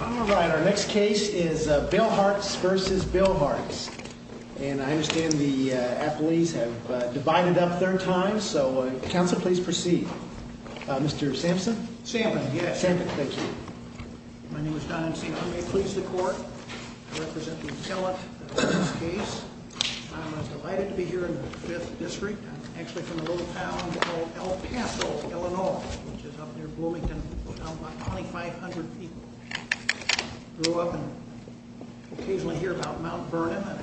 Alright, our next case is Billhartz v. Billhartz. And I understand the athletes have divided up their times, so Council, please proceed. Mr. Sampson? Sampson, yes. Sampson, thank you. My name is Don Sampson. I'm a police deport. I represent the Atellus in this case. I'm delighted to be here in the 5th District. I'm actually from a little town called El Paso, Illinois, which is up near Bloomington. We're down about 2,500 people. I grew up and occasionally hear about Mount Vernon, and I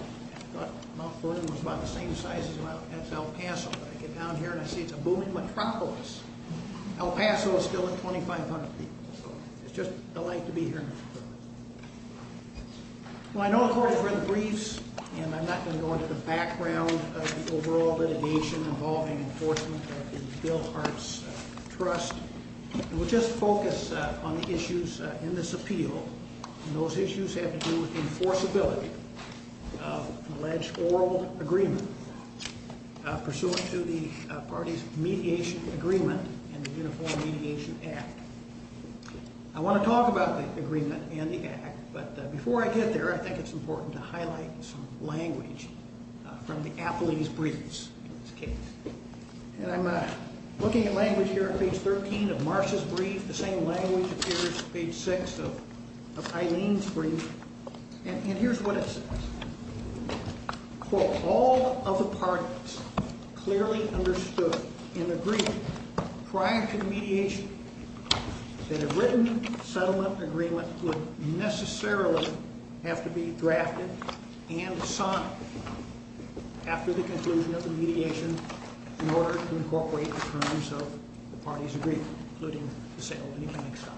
thought Mount Vernon was about the same size as El Paso. But I get down here and I see it's a booming metropolis. El Paso is still at 2,500 people, so it's just a delight to be here. Well, I know the court has read the briefs, and I'm not going to go into the background of the overall litigation involving enforcement of the Bill Hart's trust. We'll just focus on the issues in this appeal, and those issues have to do with the enforceability of an alleged oral agreement pursuant to the party's mediation agreement and the Uniform Mediation Act. I want to talk about the agreement and the act, but before I get there, I think it's important to highlight some language from the Appley's briefs in this case. I'm looking at language here on page 13 of Marsha's brief. The same language appears on page 6 of Eileen's brief, and here's what it says. Quote, all of the parties clearly understood in agreement prior to the mediation that a written settlement agreement would necessarily have to be drafted and signed after the conclusion of the mediation in order to incorporate the terms of the party's agreement, including the sale of an economic sign.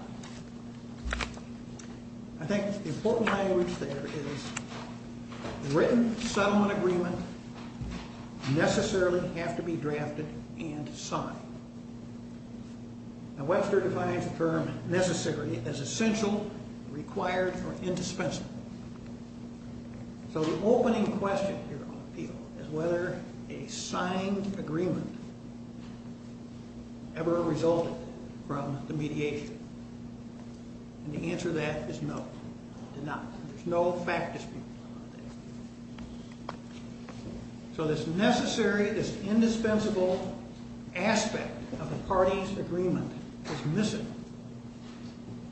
I think the important language there is written settlement agreement necessarily have to be drafted and signed. Now Webster defines the term necessary as essential, required, or indispensable. So the opening question here on appeal is whether a signed agreement ever resulted from the mediation, and the answer to that is no, it did not. There's no fact dispute on that. So this necessary, this indispensable aspect of the party's agreement is missing,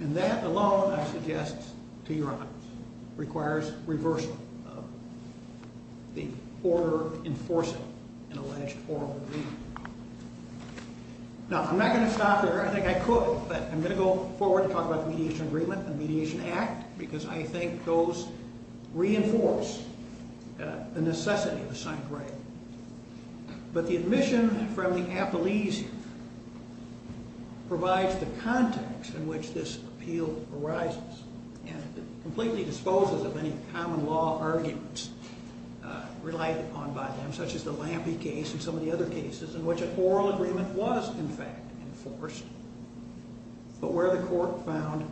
and that alone, I suggest to your honors, requires reversal of the order enforcing an alleged oral agreement. Now, I'm not going to stop there. I think I could, but I'm going to go forward to talk about the mediation agreement and mediation act, because I think those reinforce the necessity of a signed agreement. But the admission from the appellees here provides the context in which this appeal arises and completely disposes of any common law arguments relied upon by them, such as the Lampe case and some of the other cases in which an oral agreement was, in fact, enforced, but where the court found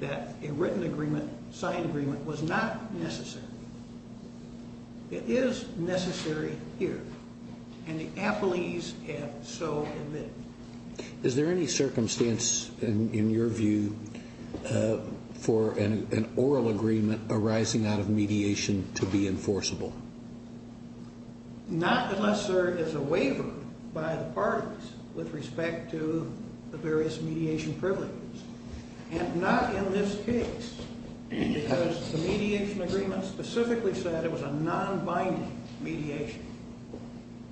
that a written agreement, signed agreement, was not necessary. It is necessary here, and the appellees have so admitted. Is there any circumstance in your view for an oral agreement arising out of mediation to be enforceable? Not unless there is a waiver by the parties with respect to the various mediation privileges, and not in this case, because the mediation agreement specifically said it was a nonbinding mediation,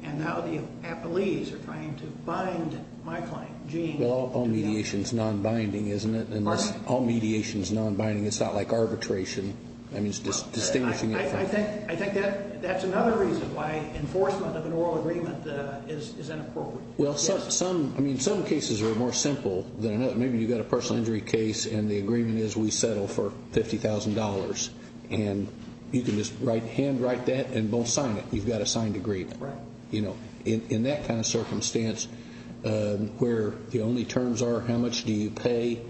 and now the appellees are trying to bind my client, Gene, to that. Well, all mediation is nonbinding, isn't it? All mediation is nonbinding. It's not like arbitration. I think that's another reason why enforcement of an oral agreement is inappropriate. Well, some cases are more simple than others. Maybe you've got a personal injury case, and the agreement is we settle for $50,000, and you can just handwrite that and don't sign it. You've got a signed agreement. In that kind of circumstance, where the only terms are how much do you pay,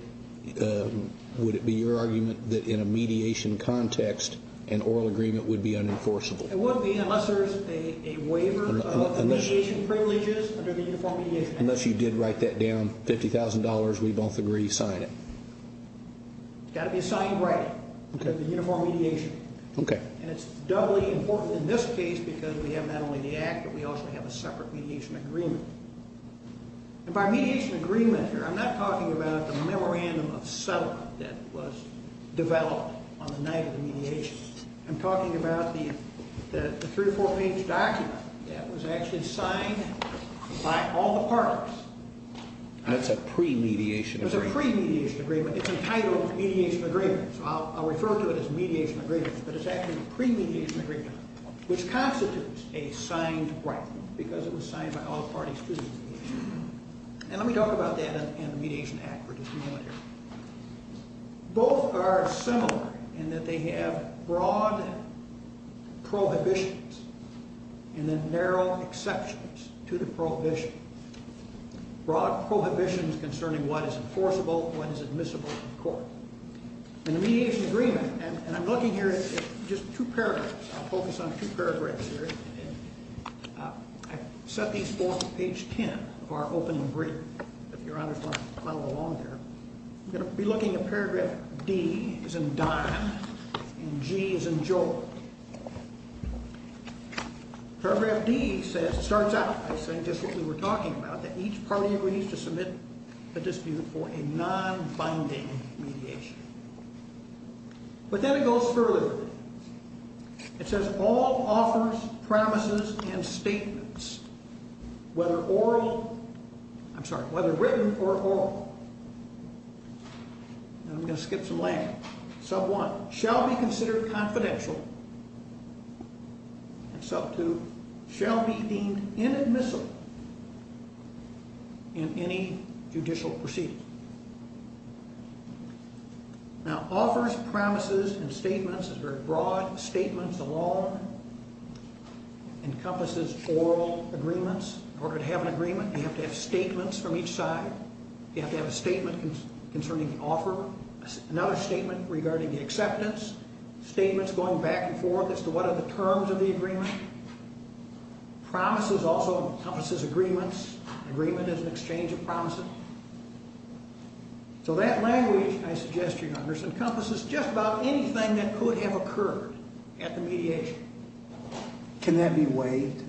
would it be your argument that in a mediation context, an oral agreement would be unenforceable? It wouldn't be unless there is a waiver of mediation privileges under the Uniform Mediation Act. Unless you did write that down, $50,000, we both agree, sign it. It's got to be a signed writing, the Uniform Mediation. Okay. And it's doubly important in this case because we have not only the Act, but we also have a separate mediation agreement. And by mediation agreement here, I'm not talking about the memorandum of settlement that was developed on the night of the mediation. I'm talking about the three-, four-page document that was actually signed by all the parties. That's a pre-mediation agreement. It's a pre-mediation agreement. It's entitled Mediation Agreement, so I'll refer to it as Mediation Agreement, but it's actually a pre-mediation agreement, which constitutes a signed writing because it was signed by all the parties to the mediation. And let me talk about that and the mediation act for just a moment here. Both are similar in that they have broad prohibitions and then narrow exceptions to the prohibitions, broad prohibitions concerning what is enforceable, what is admissible in court. In the mediation agreement, and I'm looking here at just two paragraphs. I'll focus on two paragraphs here. I set these forth at page 10 of our opening brief. If your honors want to follow along here, I'm going to be looking at paragraph D as in Don and G as in Joel. Paragraph D says, it starts out, I think, just what we were talking about, that each party agrees to submit a dispute for a non-binding mediation. But then it goes further. It says, all offers, promises, and statements, whether oral, I'm sorry, whether written or oral, and I'm going to skip some language, sub one, shall be considered confidential, and sub two, shall be deemed inadmissible in any judicial proceeding. Now, offers, promises, and statements is very broad. Statements alone encompasses oral agreements. In order to have an agreement, you have to have statements from each side. You have to have a statement concerning the offer, another statement regarding the acceptance, statements going back and forth as to what are the terms of the agreement. Promises also encompasses agreements. Agreement is an exchange of promises. So that language, I suggest, Your Honor, encompasses just about anything that could have occurred at the mediation. Can that be waived?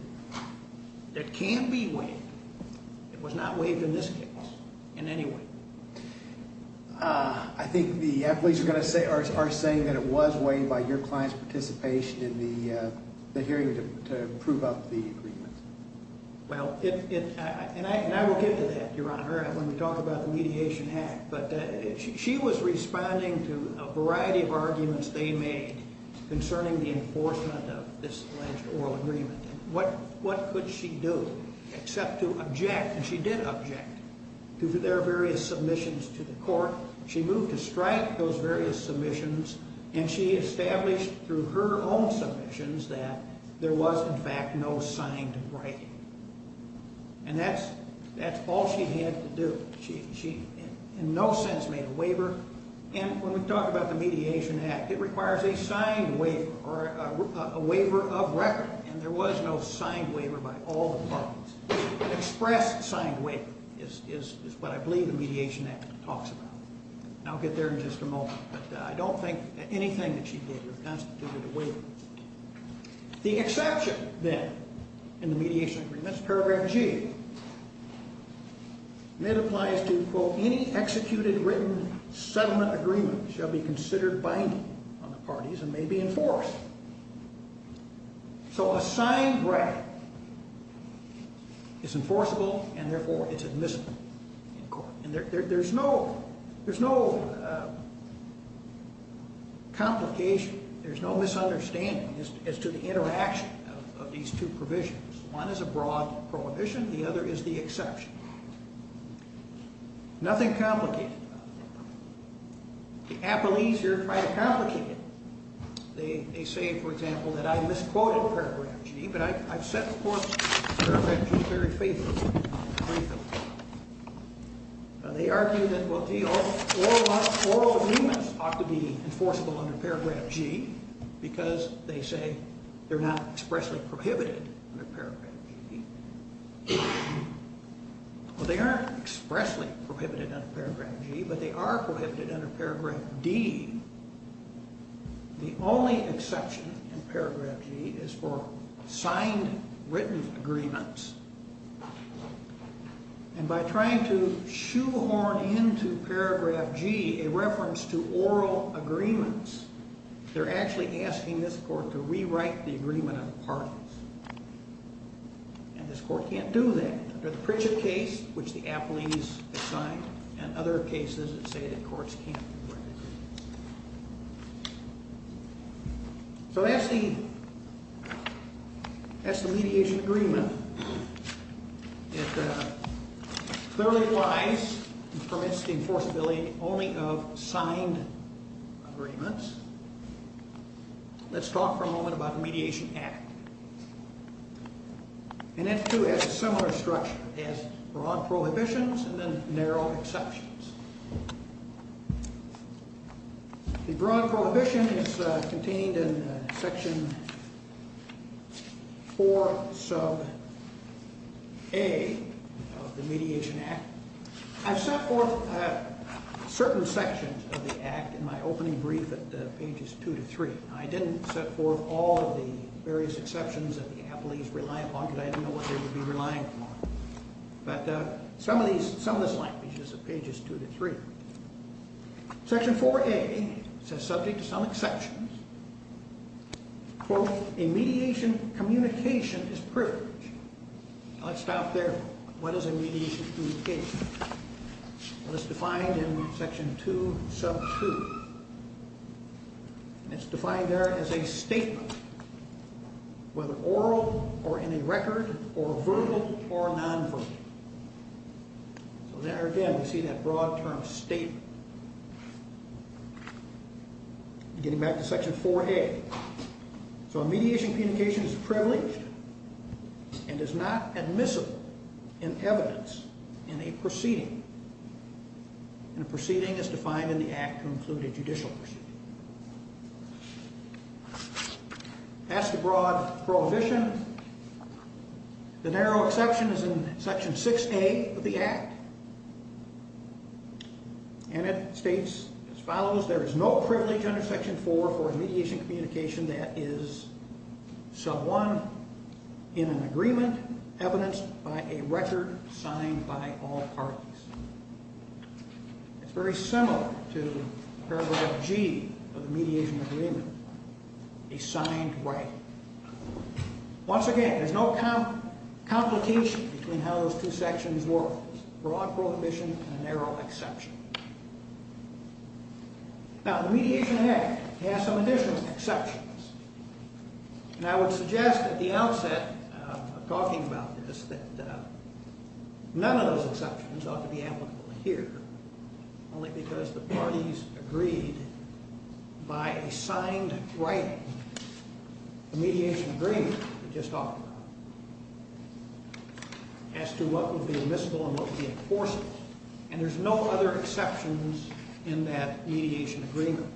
It can't be waived. It was not waived in this case in any way. I think the athletes are going to say, are saying that it was waived by your client's participation in the hearing to prove up the agreement. Well, and I will get to that, Your Honor, when we talk about the mediation act. But she was responding to a variety of arguments they made concerning the enforcement of this alleged oral agreement. What could she do except to object? And she did object to their various submissions to the court. She moved to strike those various submissions, and she established through her own submissions that there was, in fact, no signed right. And that's all she had to do. She in no sense made a waiver. And when we talk about the mediation act, it requires a signed waiver or a waiver of record, and there was no signed waiver by all the parties. An express signed waiver is what I believe the mediation act talks about. And I'll get there in just a moment. But I don't think that anything that she did was constituted a waiver. The exception, then, in the mediation agreement is paragraph G. And it applies to, quote, any executed written settlement agreement shall be considered binding on the parties and may be enforced. So a signed right is enforceable, and therefore it's admissible in court. And there's no complication. There's no misunderstanding as to the interaction of these two provisions. One is a broad prohibition. The other is the exception. Nothing complicated about it. The appellees here try to complicate it. They say, for example, that I misquoted paragraph G, but I've said, of course, paragraph G is very faithful. They argue that all agreements ought to be enforceable under paragraph G because they say they're not expressly prohibited under paragraph G. Well, they aren't expressly prohibited under paragraph G, but they are prohibited under paragraph D. The only exception in paragraph G is for signed written agreements. And by trying to shoehorn into paragraph G a reference to oral agreements, they're actually asking this court to rewrite the agreement on the parties. And this court can't do that. Under the Pritchett case, which the appellees have signed, and other cases that say that courts can't do that. So that's the mediation agreement. It clearly applies and permits the enforceability only of signed agreements. Let's talk for a moment about the Mediation Act. And that too has a similar structure. It has broad prohibitions and then narrow exceptions. The broad prohibition is contained in section 4 sub A of the Mediation Act. I've set forth certain sections of the Act in my opening brief at pages 2 to 3. I didn't set forth all of the various exceptions that the appellees rely upon because I didn't know what they would be relying upon. But some of this language is at pages 2 to 3. Section 4A says, subject to some exceptions, quote, a mediation communication is privileged. Now let's stop there. What is a mediation communication? Well, it's defined in section 2 sub 2. And it's defined there as a statement, whether oral or in a record or verbal or nonverbal. So there again we see that broad term statement. Getting back to section 4A. So a mediation communication is privileged and is not admissible in evidence in a proceeding. And a proceeding is defined in the Act to include a judicial proceeding. As to broad prohibition, the narrow exception is in section 6A of the Act. And it states as follows. There is no privilege under section 4 for a mediation communication that is sub 1 in an agreement evidenced by a record signed by all parties. It's very similar to paragraph G of the mediation agreement, a signed right. Once again, there's no complication between how those two sections work, broad prohibition and a narrow exception. Now the Mediation Act has some additional exceptions. And I would suggest at the outset of talking about this that none of those exceptions ought to be applicable here, only because the parties agreed by a signed right, a mediation agreement we just talked about, as to what would be admissible and what would be enforceable. And there's no other exceptions in that mediation agreement.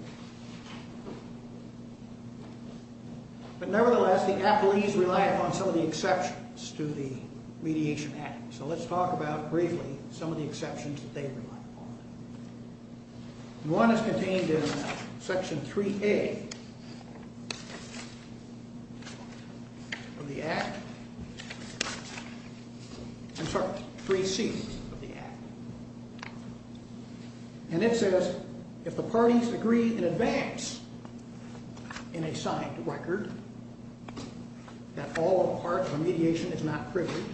But nevertheless, the appellees rely upon some of the exceptions to the Mediation Act. So let's talk about briefly some of the exceptions that they rely upon. One is contained in section 3A of the Act. I'm sorry, 3C of the Act. And it says if the parties agree in advance in a signed record that all or part of a mediation is not privileged,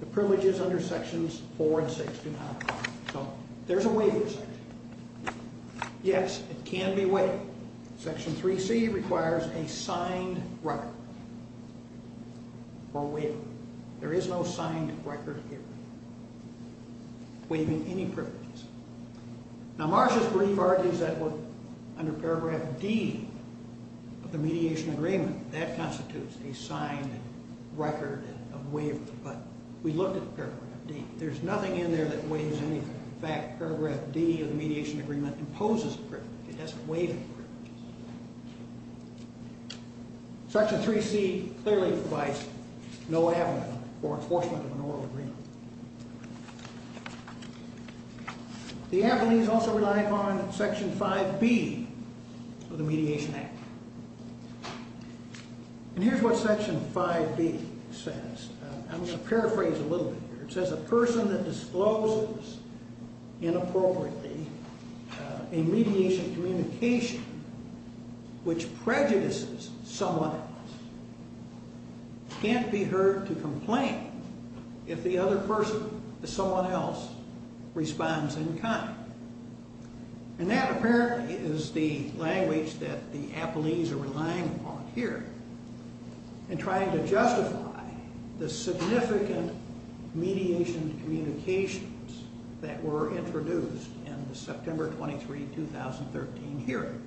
the privileges under sections 4 and 6 do not apply. So there's a waiver section. Yes, it can be waived. Section 3C requires a signed record or waiver. There is no signed record here waiving any privileges. Now Marcia's brief argues that under paragraph D of the mediation agreement, that constitutes a signed record of waiver. But we looked at paragraph D. There's nothing in there that waives anything. In fact, paragraph D of the mediation agreement imposes a privilege. It doesn't waive any privileges. Section 3C clearly provides no avenue for enforcement of an oral agreement. The appellees also rely upon section 5B of the Mediation Act. And here's what section 5B says. I'm going to paraphrase a little bit here. It says a person that discloses inappropriately a mediation communication which prejudices someone else can't be heard to complain if the other person, someone else, responds in kind. And that apparently is the language that the appellees are relying upon here in trying to justify the significant mediation communications that were introduced in the September 23, 2013 hearing.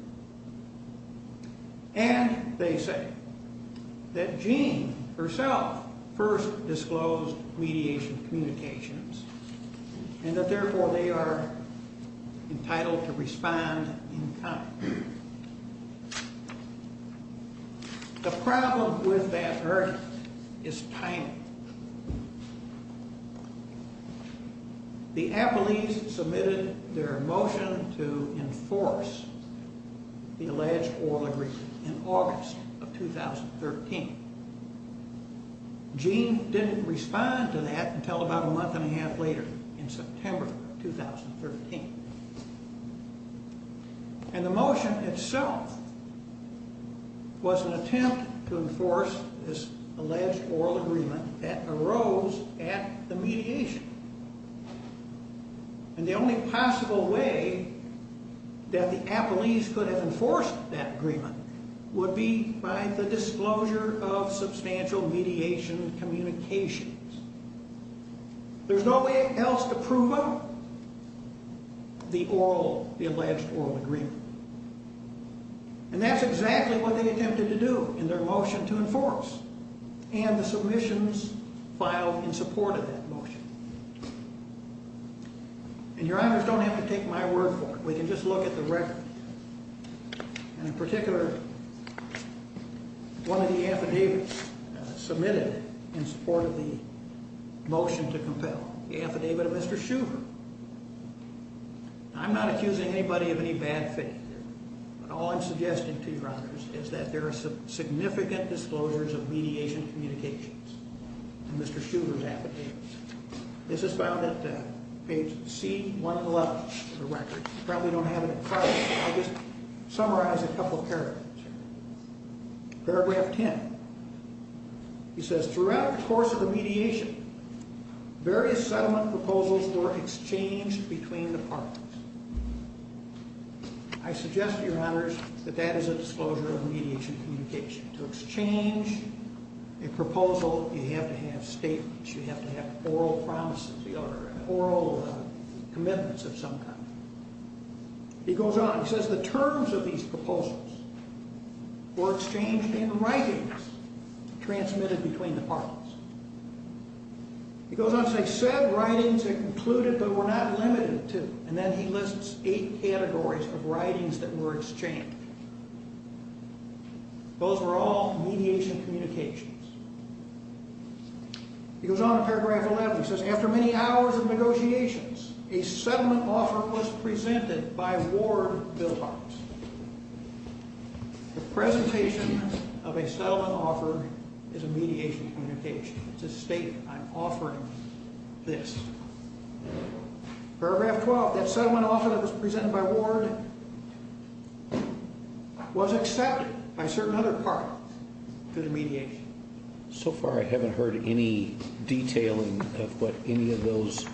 And they say that Jean herself first disclosed mediation communications and that therefore they are entitled to respond in kind. The problem with that argument is tiny. The appellees submitted their motion to enforce the alleged oral agreement in August of 2013. Jean didn't respond to that until about a month and a half later in September of 2013. And the motion itself was an attempt to enforce this alleged oral agreement that arose at the mediation. And the only possible way that the appellees could have enforced that agreement would be by the disclosure of substantial mediation communications. There's no way else to prove them the alleged oral agreement. And that's exactly what they attempted to do in their motion to enforce and the submissions filed in support of that motion. And your honors don't have to take my word for it. We can just look at the record. And in particular, one of the affidavits submitted in support of the motion to compel, the affidavit of Mr. Shuver. I'm not accusing anybody of any bad faith here. All I'm suggesting to your honors is that there are significant disclosures of mediation communications in Mr. Shuver's affidavits. You probably don't have it in front of you. I'll just summarize a couple paragraphs here. Paragraph 10. He says, throughout the course of the mediation, various settlement proposals were exchanged between departments. I suggest to your honors that that is a disclosure of mediation communication. To exchange a proposal, you have to have statements. You have to have oral promises. Or oral commitments of some kind. He goes on. He says, the terms of these proposals were exchanged in writings transmitted between departments. He goes on to say, said writings are included but were not limited to. And then he lists eight categories of writings that were exchanged. Those were all mediation communications. He goes on to paragraph 11. He says, after many hours of negotiations, a settlement offer was presented by Ward Billbox. The presentation of a settlement offer is a mediation communication. It's a statement. I'm offering this. Paragraph 12. That settlement offer that was presented by Ward was accepted by certain other departments to the mediation. So far, I haven't heard any detailing of what any of those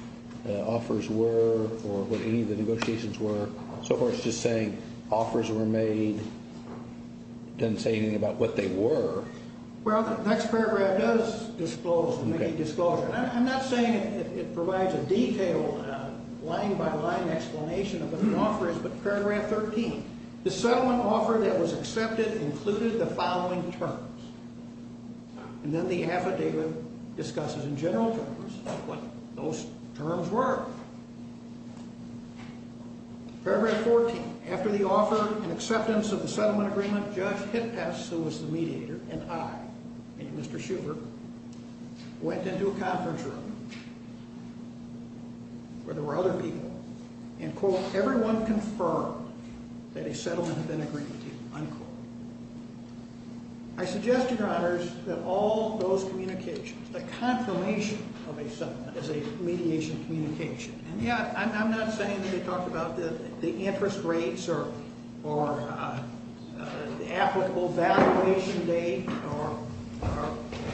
offers were or what any of the negotiations were. So far, it's just saying offers were made. It doesn't say anything about what they were. Well, the next paragraph does make a disclosure. I'm not saying it provides a detailed line-by-line explanation of what an offer is, but paragraph 13. The settlement offer that was accepted included the following terms. And then the affidavit discusses in general terms what those terms were. Paragraph 14. After the offer and acceptance of the settlement agreement, Judge Hittas, who was the mediator, and I, and Mr. Schubert, went into a conference room where there were other people, and, quote, everyone confirmed that a settlement had been agreed to, unquote. I suggested, Your Honors, that all those communications, the confirmation of a settlement as a mediation communication, and, yeah, I'm not saying that they talked about the interest rates or the applicable valuation date or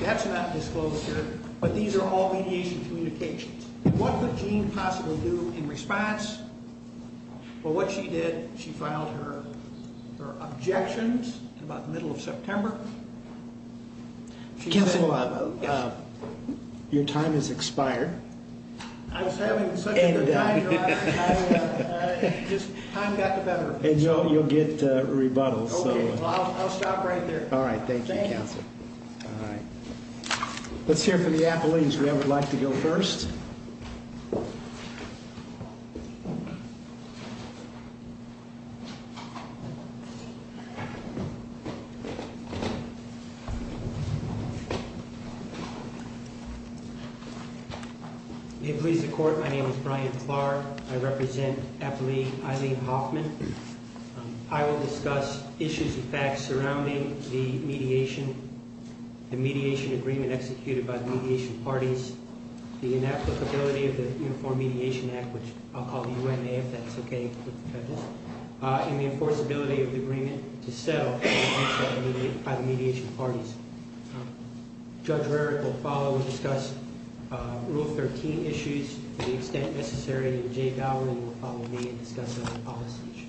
that's not disclosed here, but these are all mediation communications. What could Jeanne possibly do in response? Well, what she did, she filed her objections in about the middle of September. Counsel, your time has expired. I was having such a good time, Your Honors. I just, time got the better of me. And you'll get rebuttals. Okay, well, I'll stop right there. All right, thank you, Counsel. Thank you. All right. Let's hear from the appellees. Whoever would like to go first. Thank you. May it please the Court, my name is Brian Clark. I represent Appellee Eileen Hoffman. I will discuss issues and facts surrounding the mediation, the mediation agreement executed by the mediation parties, the inapplicability of the Uniform Mediation Act, which I'll call the UMA if that's okay with the judges, and the enforceability of the agreement to settle by the mediation parties. Judge Rarick will follow and discuss Rule 13 issues to the extent necessary, and Jay Bowring will follow me and discuss other policy issues.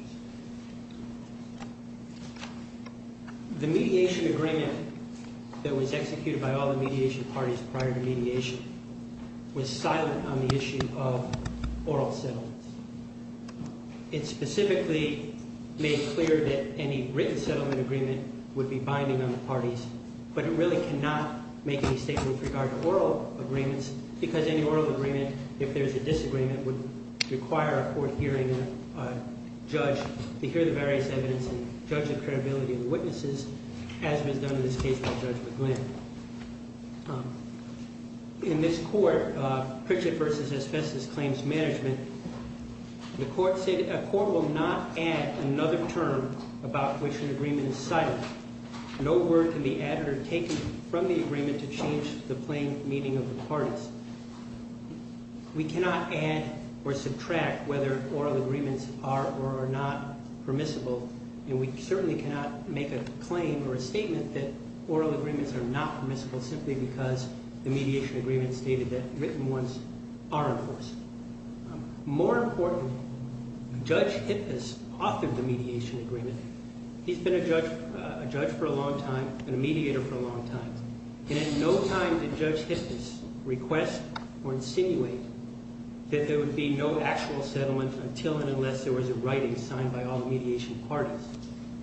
The mediation agreement that was executed by all the mediation parties prior to mediation was silent on the issue of oral settlements. It specifically made clear that any written settlement agreement would be binding on the parties, but it really cannot make any statements with regard to oral agreements because any oral agreement, if there's a disagreement, would require a court hearing of a judge to hear the various evidence and judge the credibility of the witnesses, as was done in this case by Judge McGlynn. In this court, Pritchett v. Asbestos Claims Management, the court said a court will not add another term about which an agreement is silent. No word can be added or taken from the agreement to change the plain meaning of the parties. We cannot add or subtract whether oral agreements are or are not permissible, and we certainly cannot make a claim or a statement that oral agreements are not permissible. simply because the mediation agreement stated that written ones are enforceable. More important, Judge Hippas authored the mediation agreement. He's been a judge for a long time and a mediator for a long time, and at no time did Judge Hippas request or insinuate that there would be no actual settlement until and unless there was a writing signed by all the mediation parties.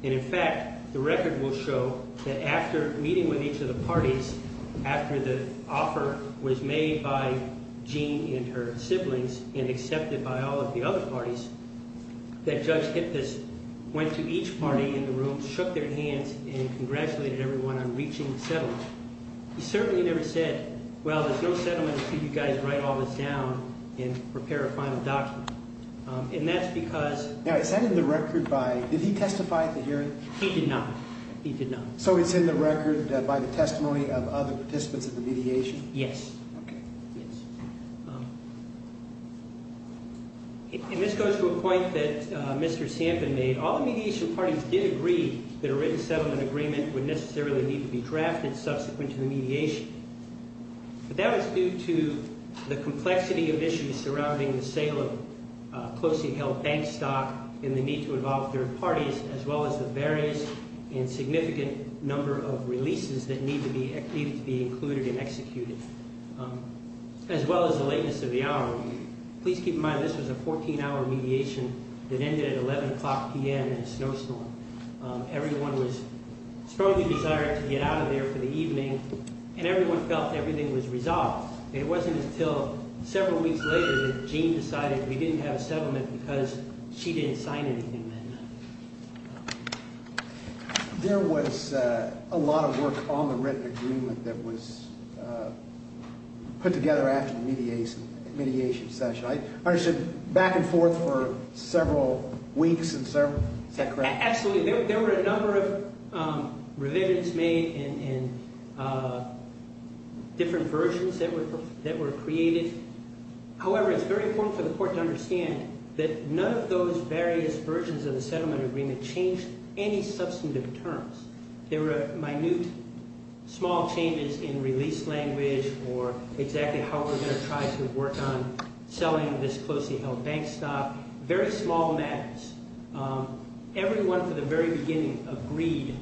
And in fact, the record will show that after meeting with each of the parties, after the offer was made by Jean and her siblings and accepted by all of the other parties, that Judge Hippas went to each party in the room, shook their hands, and congratulated everyone on reaching the settlement. He certainly never said, well, there's no settlement until you guys write all this down and prepare a final document. And that's because— Now, is that in the record by—did he testify at the hearing? He did not. He did not. So it's in the record by the testimony of other participants of the mediation? Yes. Okay. And this goes to a point that Mr. Sampin made. All the mediation parties did agree that a written settlement agreement would necessarily need to be drafted subsequent to the mediation. But that was due to the complexity of issues surrounding the sale of closely held bank stock and the need to involve third parties, as well as the various and significant number of releases that needed to be included and executed, as well as the lateness of the hour. Please keep in mind this was a 14-hour mediation that ended at 11 o'clock p.m. in a snowstorm. Everyone was strongly desired to get out of there for the evening, and everyone felt everything was resolved. It wasn't until several weeks later that Jean decided we didn't have a settlement because she didn't sign anything that night. There was a lot of work on the written agreement that was put together after the mediation session. I understood back and forth for several weeks and several—is that correct? Absolutely. There were a number of revisions made and different versions that were created. However, it's very important for the court to understand that none of those various versions of the settlement agreement changed any substantive terms. There were minute, small changes in release language or exactly how we're going to try to work on selling this closely held bank stock. Very small matters. Everyone from the very beginning agreed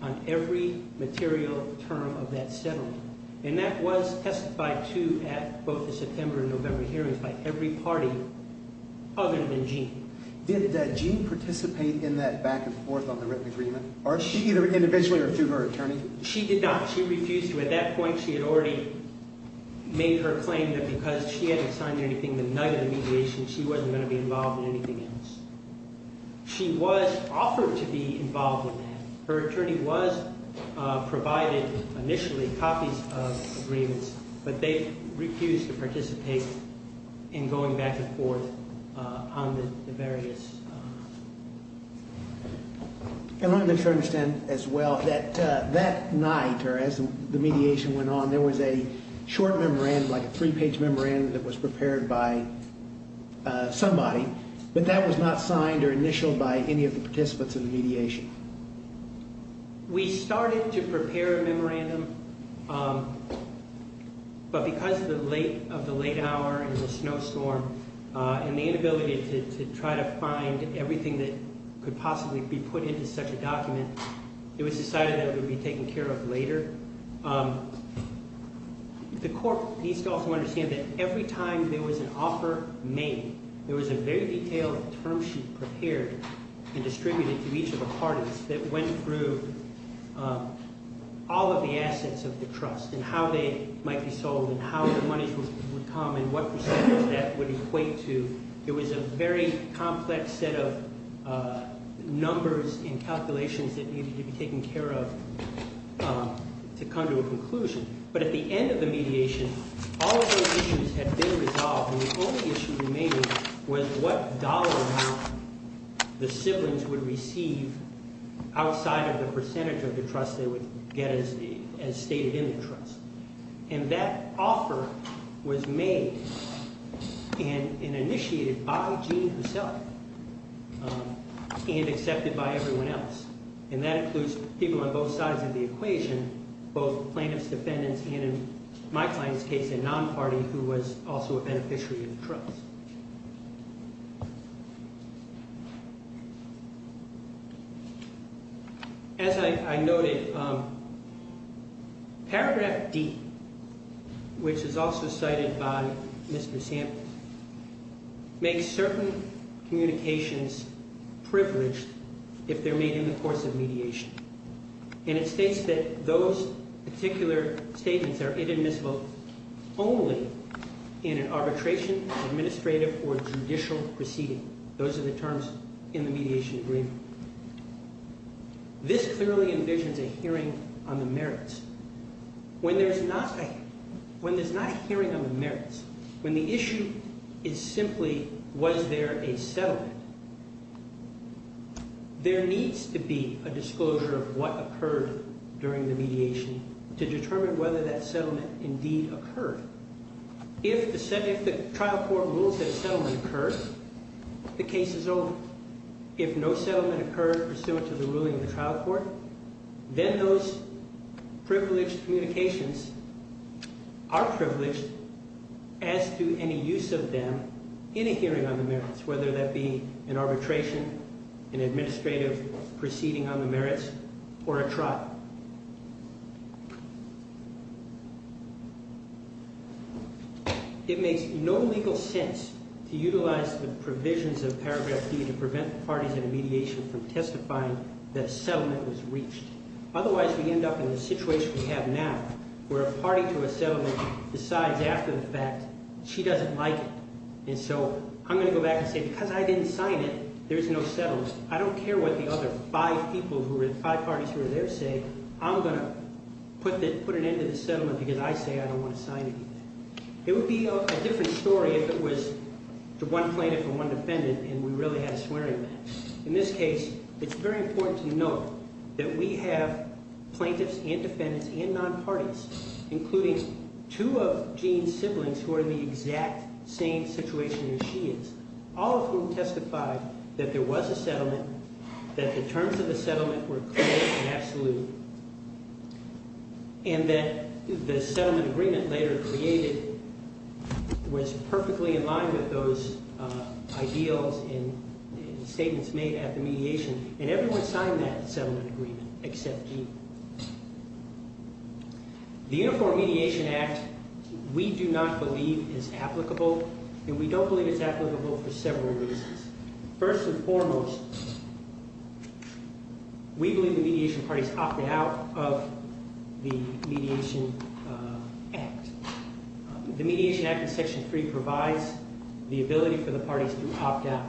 on every material term of that settlement, and that was testified to at both the September and November hearings by every party other than Jean. Did Jean participate in that back and forth on the written agreement? Did she either individually or through her attorney? She did not. She refused to. At that point, she had already made her claim that because she hadn't signed anything the night of the mediation, she wasn't going to be involved in anything else. She was offered to be involved in that. Her attorney was provided initially copies of the agreements, but they refused to participate in going back and forth on the various— And I'm not sure I understand as well that that night or as the mediation went on, there was a short memorandum, like a three-page memorandum that was prepared by somebody, but that was not signed or initialed by any of the participants in the mediation. We started to prepare a memorandum, but because of the late hour and the snowstorm and the inability to try to find everything that could possibly be put into such a document, it was decided that it would be taken care of later. The court needs to also understand that every time there was an offer made, there was a very detailed term sheet prepared and distributed to each of the parties that went through all of the assets of the trust and how they might be sold and how the money would come and what percentage that would equate to. It was a very complex set of numbers and calculations that needed to be taken care of to come to a conclusion. But at the end of the mediation, all of those issues had been resolved, and the only issue remaining was what dollar amount the siblings would receive outside of the percentage of the trust they would get as stated in the trust. And that offer was made and initiated by Jeanne herself and accepted by everyone else. And that includes people on both sides of the equation, both plaintiffs, defendants, and in my client's case, a non-party who was also a beneficiary of the trust. As I noted, Paragraph D, which is also cited by Mr. Sample, makes certain communications privileged if they're made in the course of mediation. And it states that those particular statements are inadmissible only in an arbitration, an administrative case, an administrative or judicial proceeding. Those are the terms in the mediation agreement. This clearly envisions a hearing on the merits. When there's not a hearing on the merits, when the issue is simply was there a settlement, there needs to be a disclosure of what occurred during the mediation to determine whether that settlement indeed occurred. If the trial court rules that a settlement occurred, the case is over. If no settlement occurred pursuant to the ruling of the trial court, then those privileged communications are privileged as to any use of them in a hearing on the merits, whether that be an arbitration, an administrative proceeding on the merits, or a trial. It makes no legal sense to utilize the provisions of Paragraph D to prevent parties in a mediation from testifying that a settlement was reached. Otherwise, we end up in the situation we have now where a party to a settlement decides after the fact she doesn't like it. And so I'm going to go back and say because I didn't sign it, there's no settlement. I don't care what the other five parties who are there say. I'm going to put an end to the settlement because I say I don't want to sign anything. It would be a different story if it was one plaintiff and one defendant and we really had a swearing match. In this case, it's very important to note that we have plaintiffs and defendants and non-parties, including two of Jean's siblings who are in the exact same situation as she is, all of whom testified that there was a settlement, that the terms of the settlement were clear and absolute, and that the settlement agreement later created was perfectly in line with those ideals and statements made at the mediation, and everyone signed that settlement agreement except Jean. The Uniform Mediation Act, we do not believe, is applicable, and we don't believe it's applicable for several reasons. First and foremost, we believe the mediation parties opted out of the Mediation Act. The Mediation Act in Section 3 provides the ability for the parties to opt out.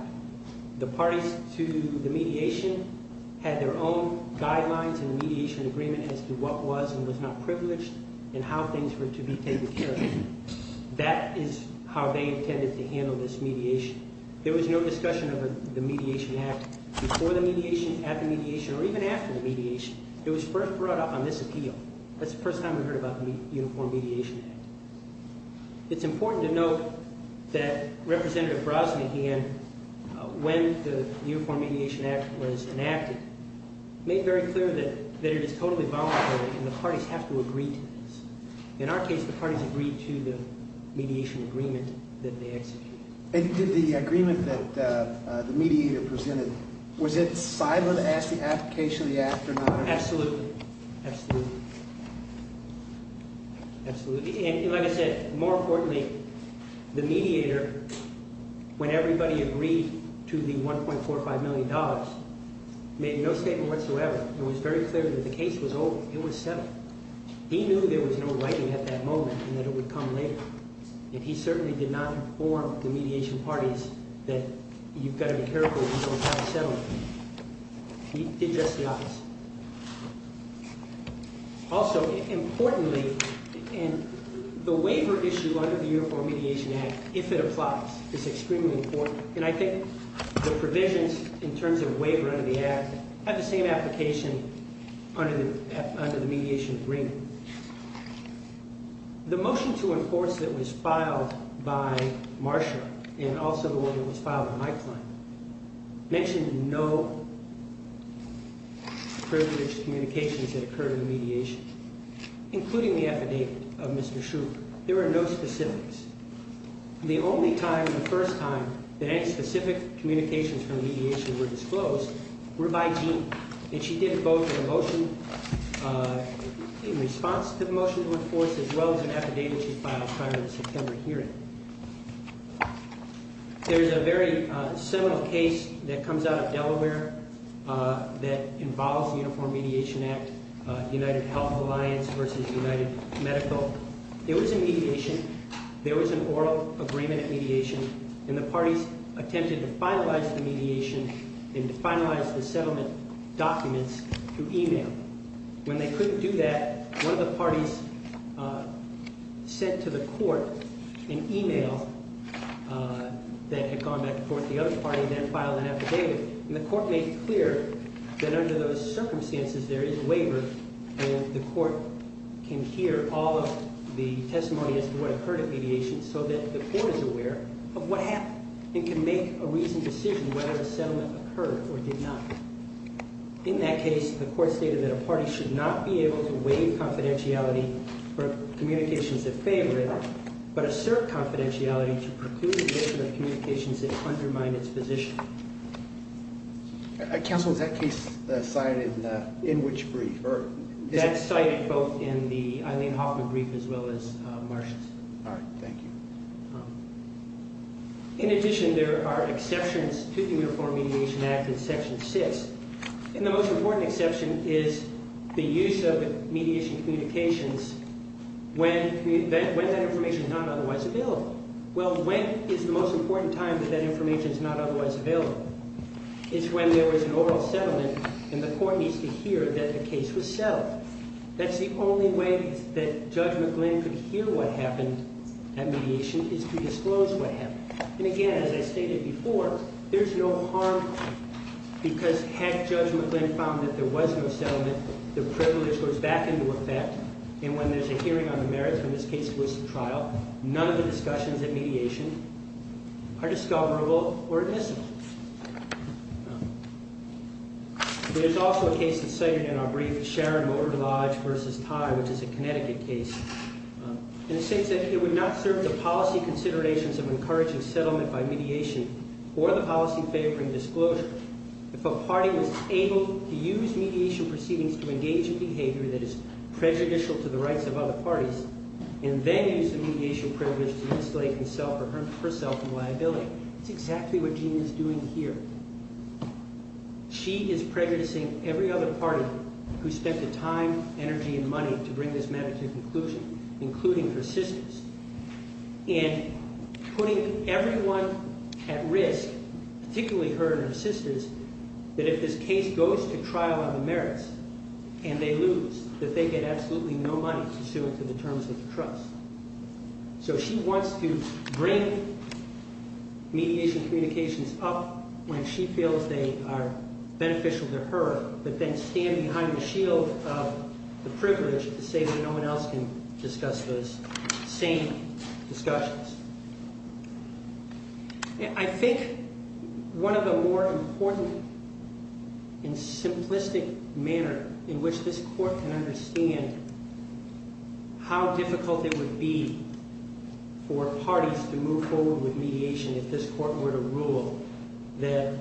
The parties to the mediation had their own guidelines in the mediation agreement as to what was and was not privileged and how things were to be taken care of. There was no discussion of the Mediation Act before the mediation, at the mediation, or even after the mediation. It was first brought up on this appeal. That's the first time we heard about the Uniform Mediation Act. It's important to note that Representative Brosnahan, when the Uniform Mediation Act was enacted, made very clear that it is totally voluntary and the parties have to agree to this. In our case, the parties agreed to the mediation agreement that they executed. And did the agreement that the mediator presented, was it silent as to the application of the act or not? Absolutely. Absolutely. And like I said, more importantly, the mediator, when everybody agreed to the $1.45 million, made no statement whatsoever. It was very clear that the case was over. It was settled. He knew there was no writing at that moment and that it would come later. And he certainly did not inform the mediation parties that you've got to be careful if you don't have a settlement. He did address the office. Also, importantly, the waiver issue under the Uniform Mediation Act, if it applies, is extremely important. And I think the provisions in terms of waiver under the act have the same application under the mediation agreement. The motion to enforce that was filed by Marsha, and also the one that was filed with my client, mentioned no privileged communications that occurred in the mediation, including the affidavit of Mr. Schroeder. There were no specifics. The only time, the first time, that any specific communications from mediation were disclosed were by Jean. And she did vote for the motion in response to the motion to enforce, as well as an affidavit she filed prior to the September hearing. There's a very similar case that comes out of Delaware that involves the Uniform Mediation Act, United Health Alliance versus United Medical. There was a mediation. There was an oral agreement at mediation, and the parties attempted to finalize the mediation and to finalize the settlement documents through e-mail. When they couldn't do that, one of the parties sent to the court an e-mail that had gone back to court. The other party then filed an affidavit, and the court made clear that under those circumstances, there is waiver, and the court can hear all of the testimony as to what occurred at mediation so that the court is aware of what happened and can make a reasoned decision whether the settlement occurred or did not. In that case, the court stated that a party should not be able to waive confidentiality for communications that favor it, but assert confidentiality to preclude additional communications that undermine its position. Counsel, is that case cited in which brief? That's cited both in the Eileen Hoffman brief as well as Marcia's. All right. Thank you. In addition, there are exceptions to the Uniform Mediation Act in Section 6, and the most important exception is the use of mediation communications when that information is not otherwise available. Well, when is the most important time that that information is not otherwise available? It's when there was an oral settlement and the court needs to hear that the case was settled. That's the only way that Judge McGlynn could hear what happened at mediation is to disclose what happened. And again, as I stated before, there's no harm because had Judge McGlynn found that there was no settlement, the privilege goes back into effect, and when there's a hearing on the merits when this case goes to trial, none of the discussions at mediation are discoverable or admissible. There's also a case that's cited in our brief, Sharon Motor Lodge v. Tye, which is a Connecticut case. In a sense that it would not serve the policy considerations of encouraging settlement by mediation or the policy favoring disclosure if a party was able to use mediation proceedings to engage in behavior that is prejudicial to the rights of other parties and then use the mediation privilege to isolate himself or herself from liability. That's exactly what Jeanne is doing here. She is prejudicing every other party who spent the time, energy, and money to bring this matter to conclusion, including her sisters, and putting everyone at risk, particularly her and her sisters, that if this case goes to trial on the merits and they lose, that they get absolutely no money to sue in the terms of the trust. So she wants to bring mediation communications up when she feels they are beneficial to her, but then stand behind the shield of the privilege to say that no one else can discuss those same discussions. I think one of the more important and simplistic manner in which this Court can understand how difficult it would be for parties to move forward with mediation if this Court were to rule that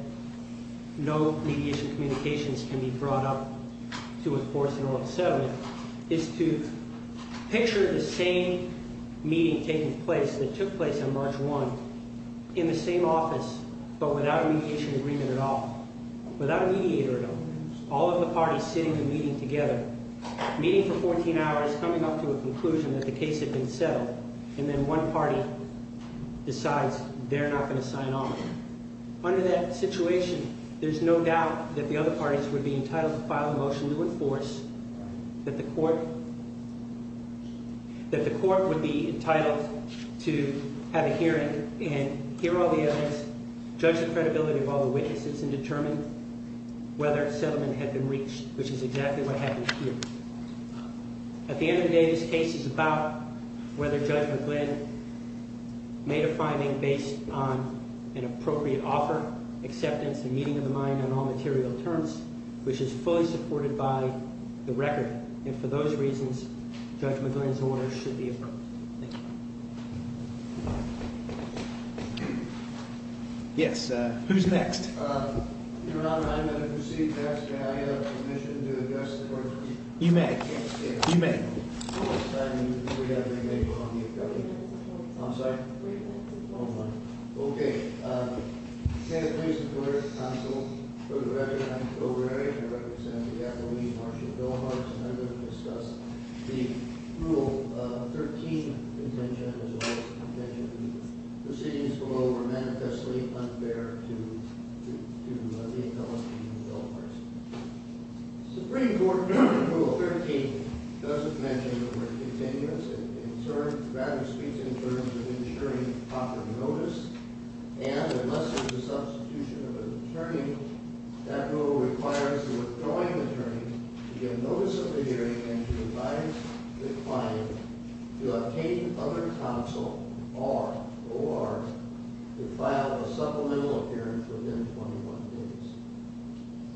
no mediation communications can be brought up to enforce an oral settlement is to picture the same meeting taking place that took place on March 1 in the same office, but without a mediation agreement at all, without a mediator at all. All of the parties sitting in a meeting together, meeting for 14 hours, coming up to a conclusion that the case had been settled, and then one party decides they're not going to sign off. Under that situation, there's no doubt that the other parties would be entitled to file a motion to enforce that the Court would be entitled to have a hearing and hear all the evidence, judge the credibility of all the witnesses, and determine whether settlement had been reached, which is exactly what happened here. At the end of the day, this case is about whether Judge McGlynn made a finding based on an appropriate offer, acceptance, and meeting of the mind on all material terms, which is fully supported by the record. And for those reasons, Judge McGlynn's order should be approved. Thank you. Yes, who's next? Your Honor, I'm going to proceed to ask if I have permission to address the Court. You may. You may. We have your name on the affiliate. I'm sorry? Okay. Santa Cruz Superior Counsel, Director, and I'm the proverbiary. I represent the Appalachian Marshall Bill of Rights, and I'm going to discuss the Rule 13 contention, as well as the contention that the proceedings below are manifestly unfair to the Appalachian Bill of Rights. Supreme Court Rule 13 doesn't mention the continuance and rather speaks in terms of ensuring proper notice, and unless there's a substitution of an attorney, that rule requires the withdrawing attorney to give notice of the hearing and to advise the client to obtain other counsel or to file a supplemental appearance within 21 days.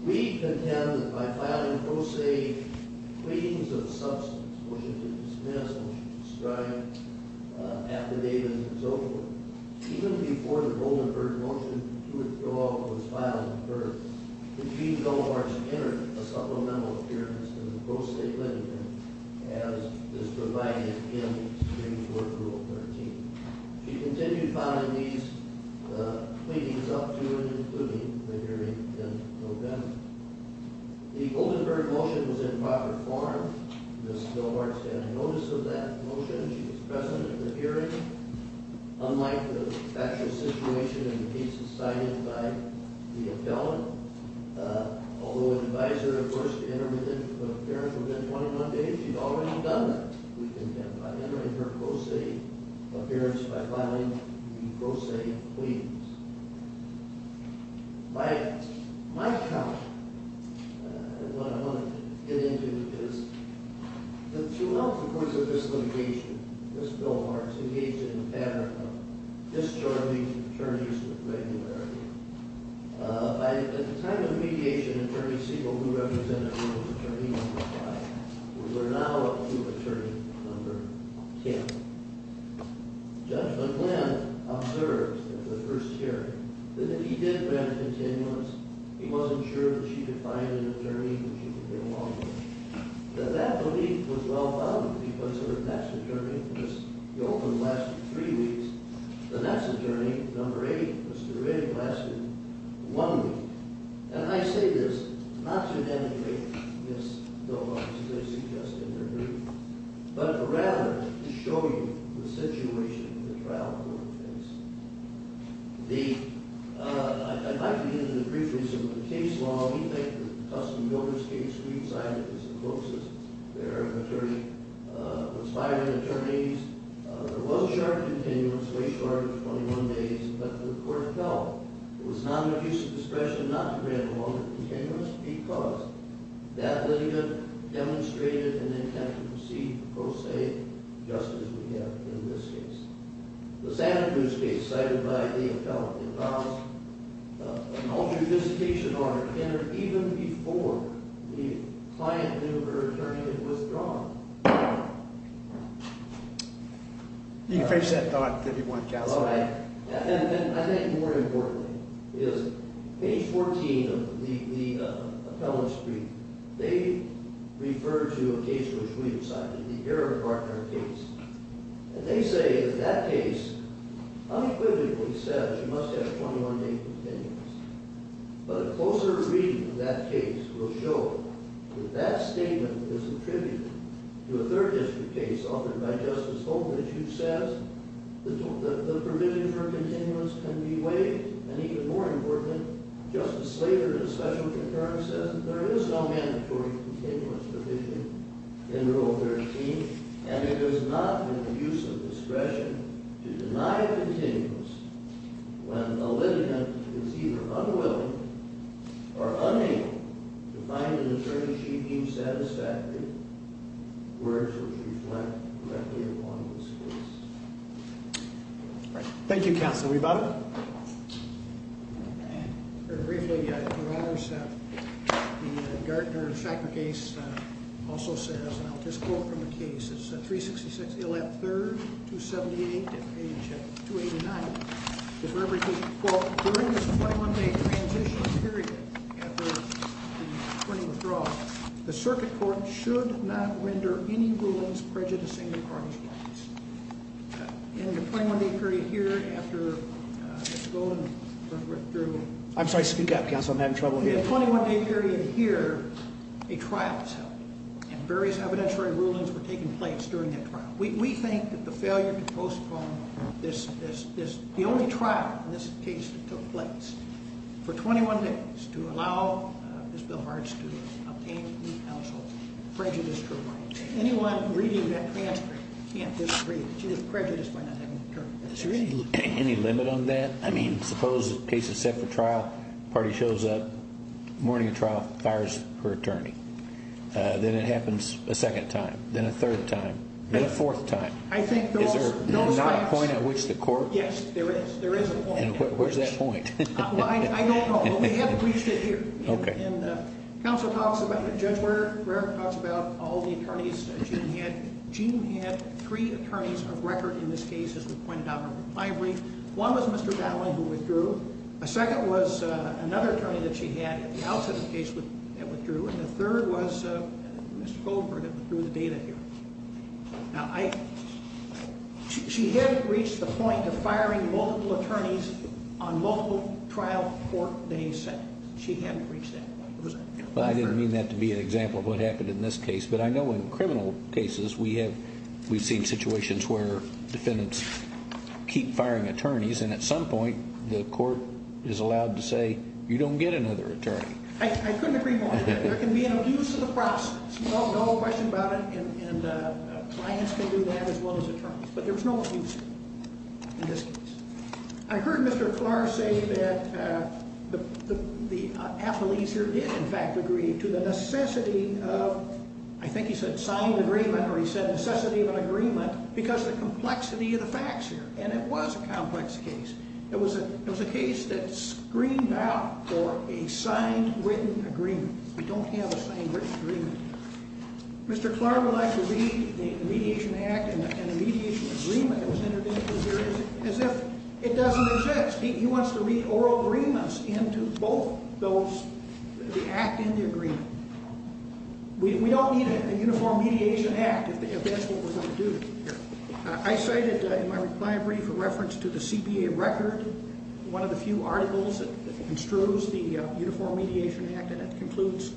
We contend that by filing pro se pleadings of substance, which are to dismiss, which are to describe, affidavits and so forth, even before the Goldenberg motion to withdraw was filed in court, the Chief Delamarche entered a supplemental appearance in the pro se pleading room as is provided in Supreme Court Rule 13. She continued filing these pleadings up to and including the hearing in November. The Goldenberg motion was in proper form. Ms. Delamarche had a notice of that motion. She was present at the hearing. Unlike the actual situation and the cases signed in by the appellant, although an advisor, of course, to enter within 21 days, she's already done that, we contend, by entering her pro se appearance by filing the pro se pleadings. My count, and what I want to get into, is that throughout the course of this litigation, Ms. Delamarche engaged in a pattern of discharging attorneys with regularity. At the time of mediation, Attorney Siegel, who represented her, was attorney number five. We're now up to attorney number 10. Judge McGlynn observed at the first hearing that if he did grant a continuance, he wasn't sure that she could find an attorney whom she could get along with. That that belief was well-founded because her next attorney, Ms. Goldman, lasted three weeks. The next attorney, number eight, Mr. Rigg, lasted one week. And I say this not to denigrate Ms. Delamarche, as I suggested in her plea, but rather to show you the situation that the trial court faced. I'd like to get into briefly some of the case law. We think that the Tustin-Milner case, we've cited as the closest there are of attorney-conspiring attorneys. There was a sharp continuance, way short of 21 days, but the court felt it was not an abuse of discretion not to grant a longer continuance because that litigant demonstrated an intent to proceed pro se, just as we have in this case. The Santa Cruz case cited by the appellant involves an all-judiciation order entered even before the client knew her attorney had withdrawn. You can face that thought if you want, counsel. And I think more importantly is page 14 of the appellant's brief, they refer to a case which we have cited, the Eric Gartner case, and they say that that case unequivocally says you must have 21-day continuance, but a closer reading of that case will show that that statement is a tribute to a third-district case offered by Justice Holtridge who says the provisions for continuance can be waived, and even more importantly, Justice Slater, in a special concurrence, says that there is no mandatory continuance provision in Rule 13, and it does not make use of discretion to deny continuance when a litigant is either unwilling or unable to find an attorney she deems satisfactory. Words which reflect directly upon this case. Thank you, counsel. We've got... Briefly, Your Honors, the Gartner-Shacker case also says, and I'll just quote from the case, it's at 366 Illett 3rd, 278, and page 289, it represents, quote, during this 21-day transition period after the attorney withdrawal, the circuit court should not render any rulings prejudicing the parties' rights. In the 21-day period here, I'm sorry, speak up, counsel, I'm having trouble here. In the 21-day period here, a trial was held, and various evidentiary rulings were taking place during that trial. We think that the failure to postpone the only trial in this case that took place for 21 days to allow Ms. Bill Hartz to obtain new counsel prejudiced her right. Anyone reading that transcript can't disagree that she was prejudiced by not having an attorney. Is there any limit on that? I mean, suppose the case is set for trial, party shows up, morning of trial, fires her attorney. Then it happens a second time, then a third time, then a fourth time. Is there not a point at which the court... Yes, there is. There is a point. Where's that point? I don't know. But we have it. We just did it here. Okay. And counsel talks about, Judge Rarick talks about all the attorneys Gene had. Gene had three attorneys of record in this case, as we pointed out in my brief. One was Mr. Dowling, who withdrew. A second was another attorney that she had at the outset of the case that withdrew. And the third was Mr. Goldberg that withdrew the data here. Now, I... She hadn't reached the point of firing multiple attorneys on multiple trial court days. She hadn't reached that point. I didn't mean that to be an example of what happened in this case. But I know in criminal cases, we've seen situations where defendants keep firing attorneys, and at some point, the court is allowed to say, you don't get another attorney. I couldn't agree more. There can be an abuse of the process. No question about it. And clients can do that as well as attorneys. But there was no abuse in this case. I heard Mr. Clark say that the athletes here did, in fact, agree to the necessity of, I think he said signed agreement, or he said necessity of an agreement, because of the complexity of the facts here. And it was a complex case. It was a case that screamed out for a signed written agreement. We don't have a signed written agreement. Mr. Clark would like to read the mediation act and the mediation agreement that was entered into here as if it doesn't exist. He wants to read oral agreements into both those, the act and the agreement. We don't need a uniform mediation act if that's what we're going to do here. I cited in my reply brief a reference to the CBA record, one of the few articles that construes the uniform mediation act, and it concludes,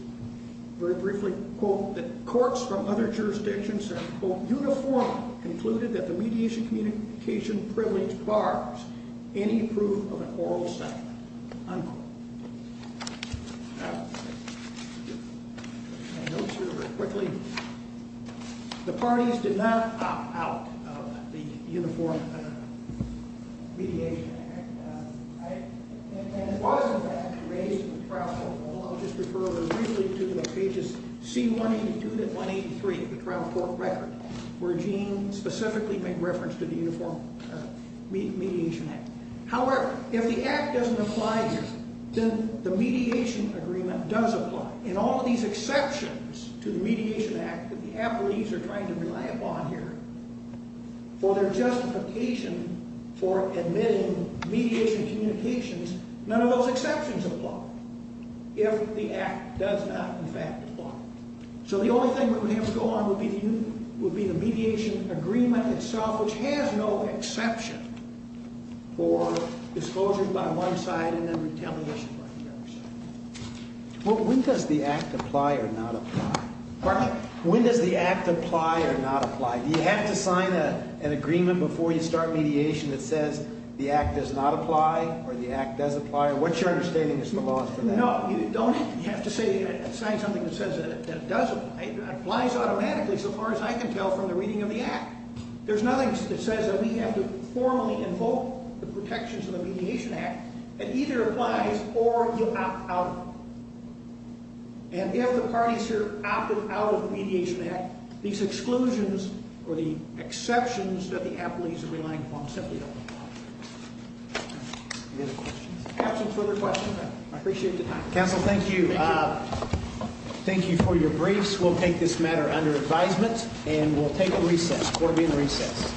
very briefly, quote, that courts from other jurisdictions have, quote, uniformly concluded that the mediation communication privilege bars any proof of an oral settlement, unquote. My notes here, very quickly. The parties did not opt out of the uniform mediation act. And it was, in fact, raised in the trial court law. I'll just refer briefly to the pages C182 to 183 of the trial court record, where Gene specifically made reference to the uniform mediation act. However, if the act doesn't apply then the mediation agreement does apply. And all of these exceptions to the mediation act that the appellees are trying to rely upon here for their justification for admitting mediation communications, none of those exceptions apply if the act does not, in fact, apply. So the only thing that would have to go on would be the mediation agreement itself, which has no exception for disclosures by one side and then retaliation by the other side. Well, when does the act apply or not apply? Pardon me? When does the act apply or not apply? Do you have to sign an agreement before you start mediation that says the act does not apply or the act does apply? What's your understanding of some laws for that? No, you don't. You have to sign something that says that it does apply. It applies automatically, so far as I can tell, from the reading of the act. There's nothing that says that we have to formally invoke the protections of the mediation act that either applies or you opt out of them. And if the parties here opted out of the mediation act, these exclusions or the exceptions that the appellees are relying upon simply don't apply. Any other questions? Absent further questions, I appreciate the time. Counsel, thank you. Thank you for your briefs. We'll take this matter under advisement and we'll take a recess. Court will be in recess.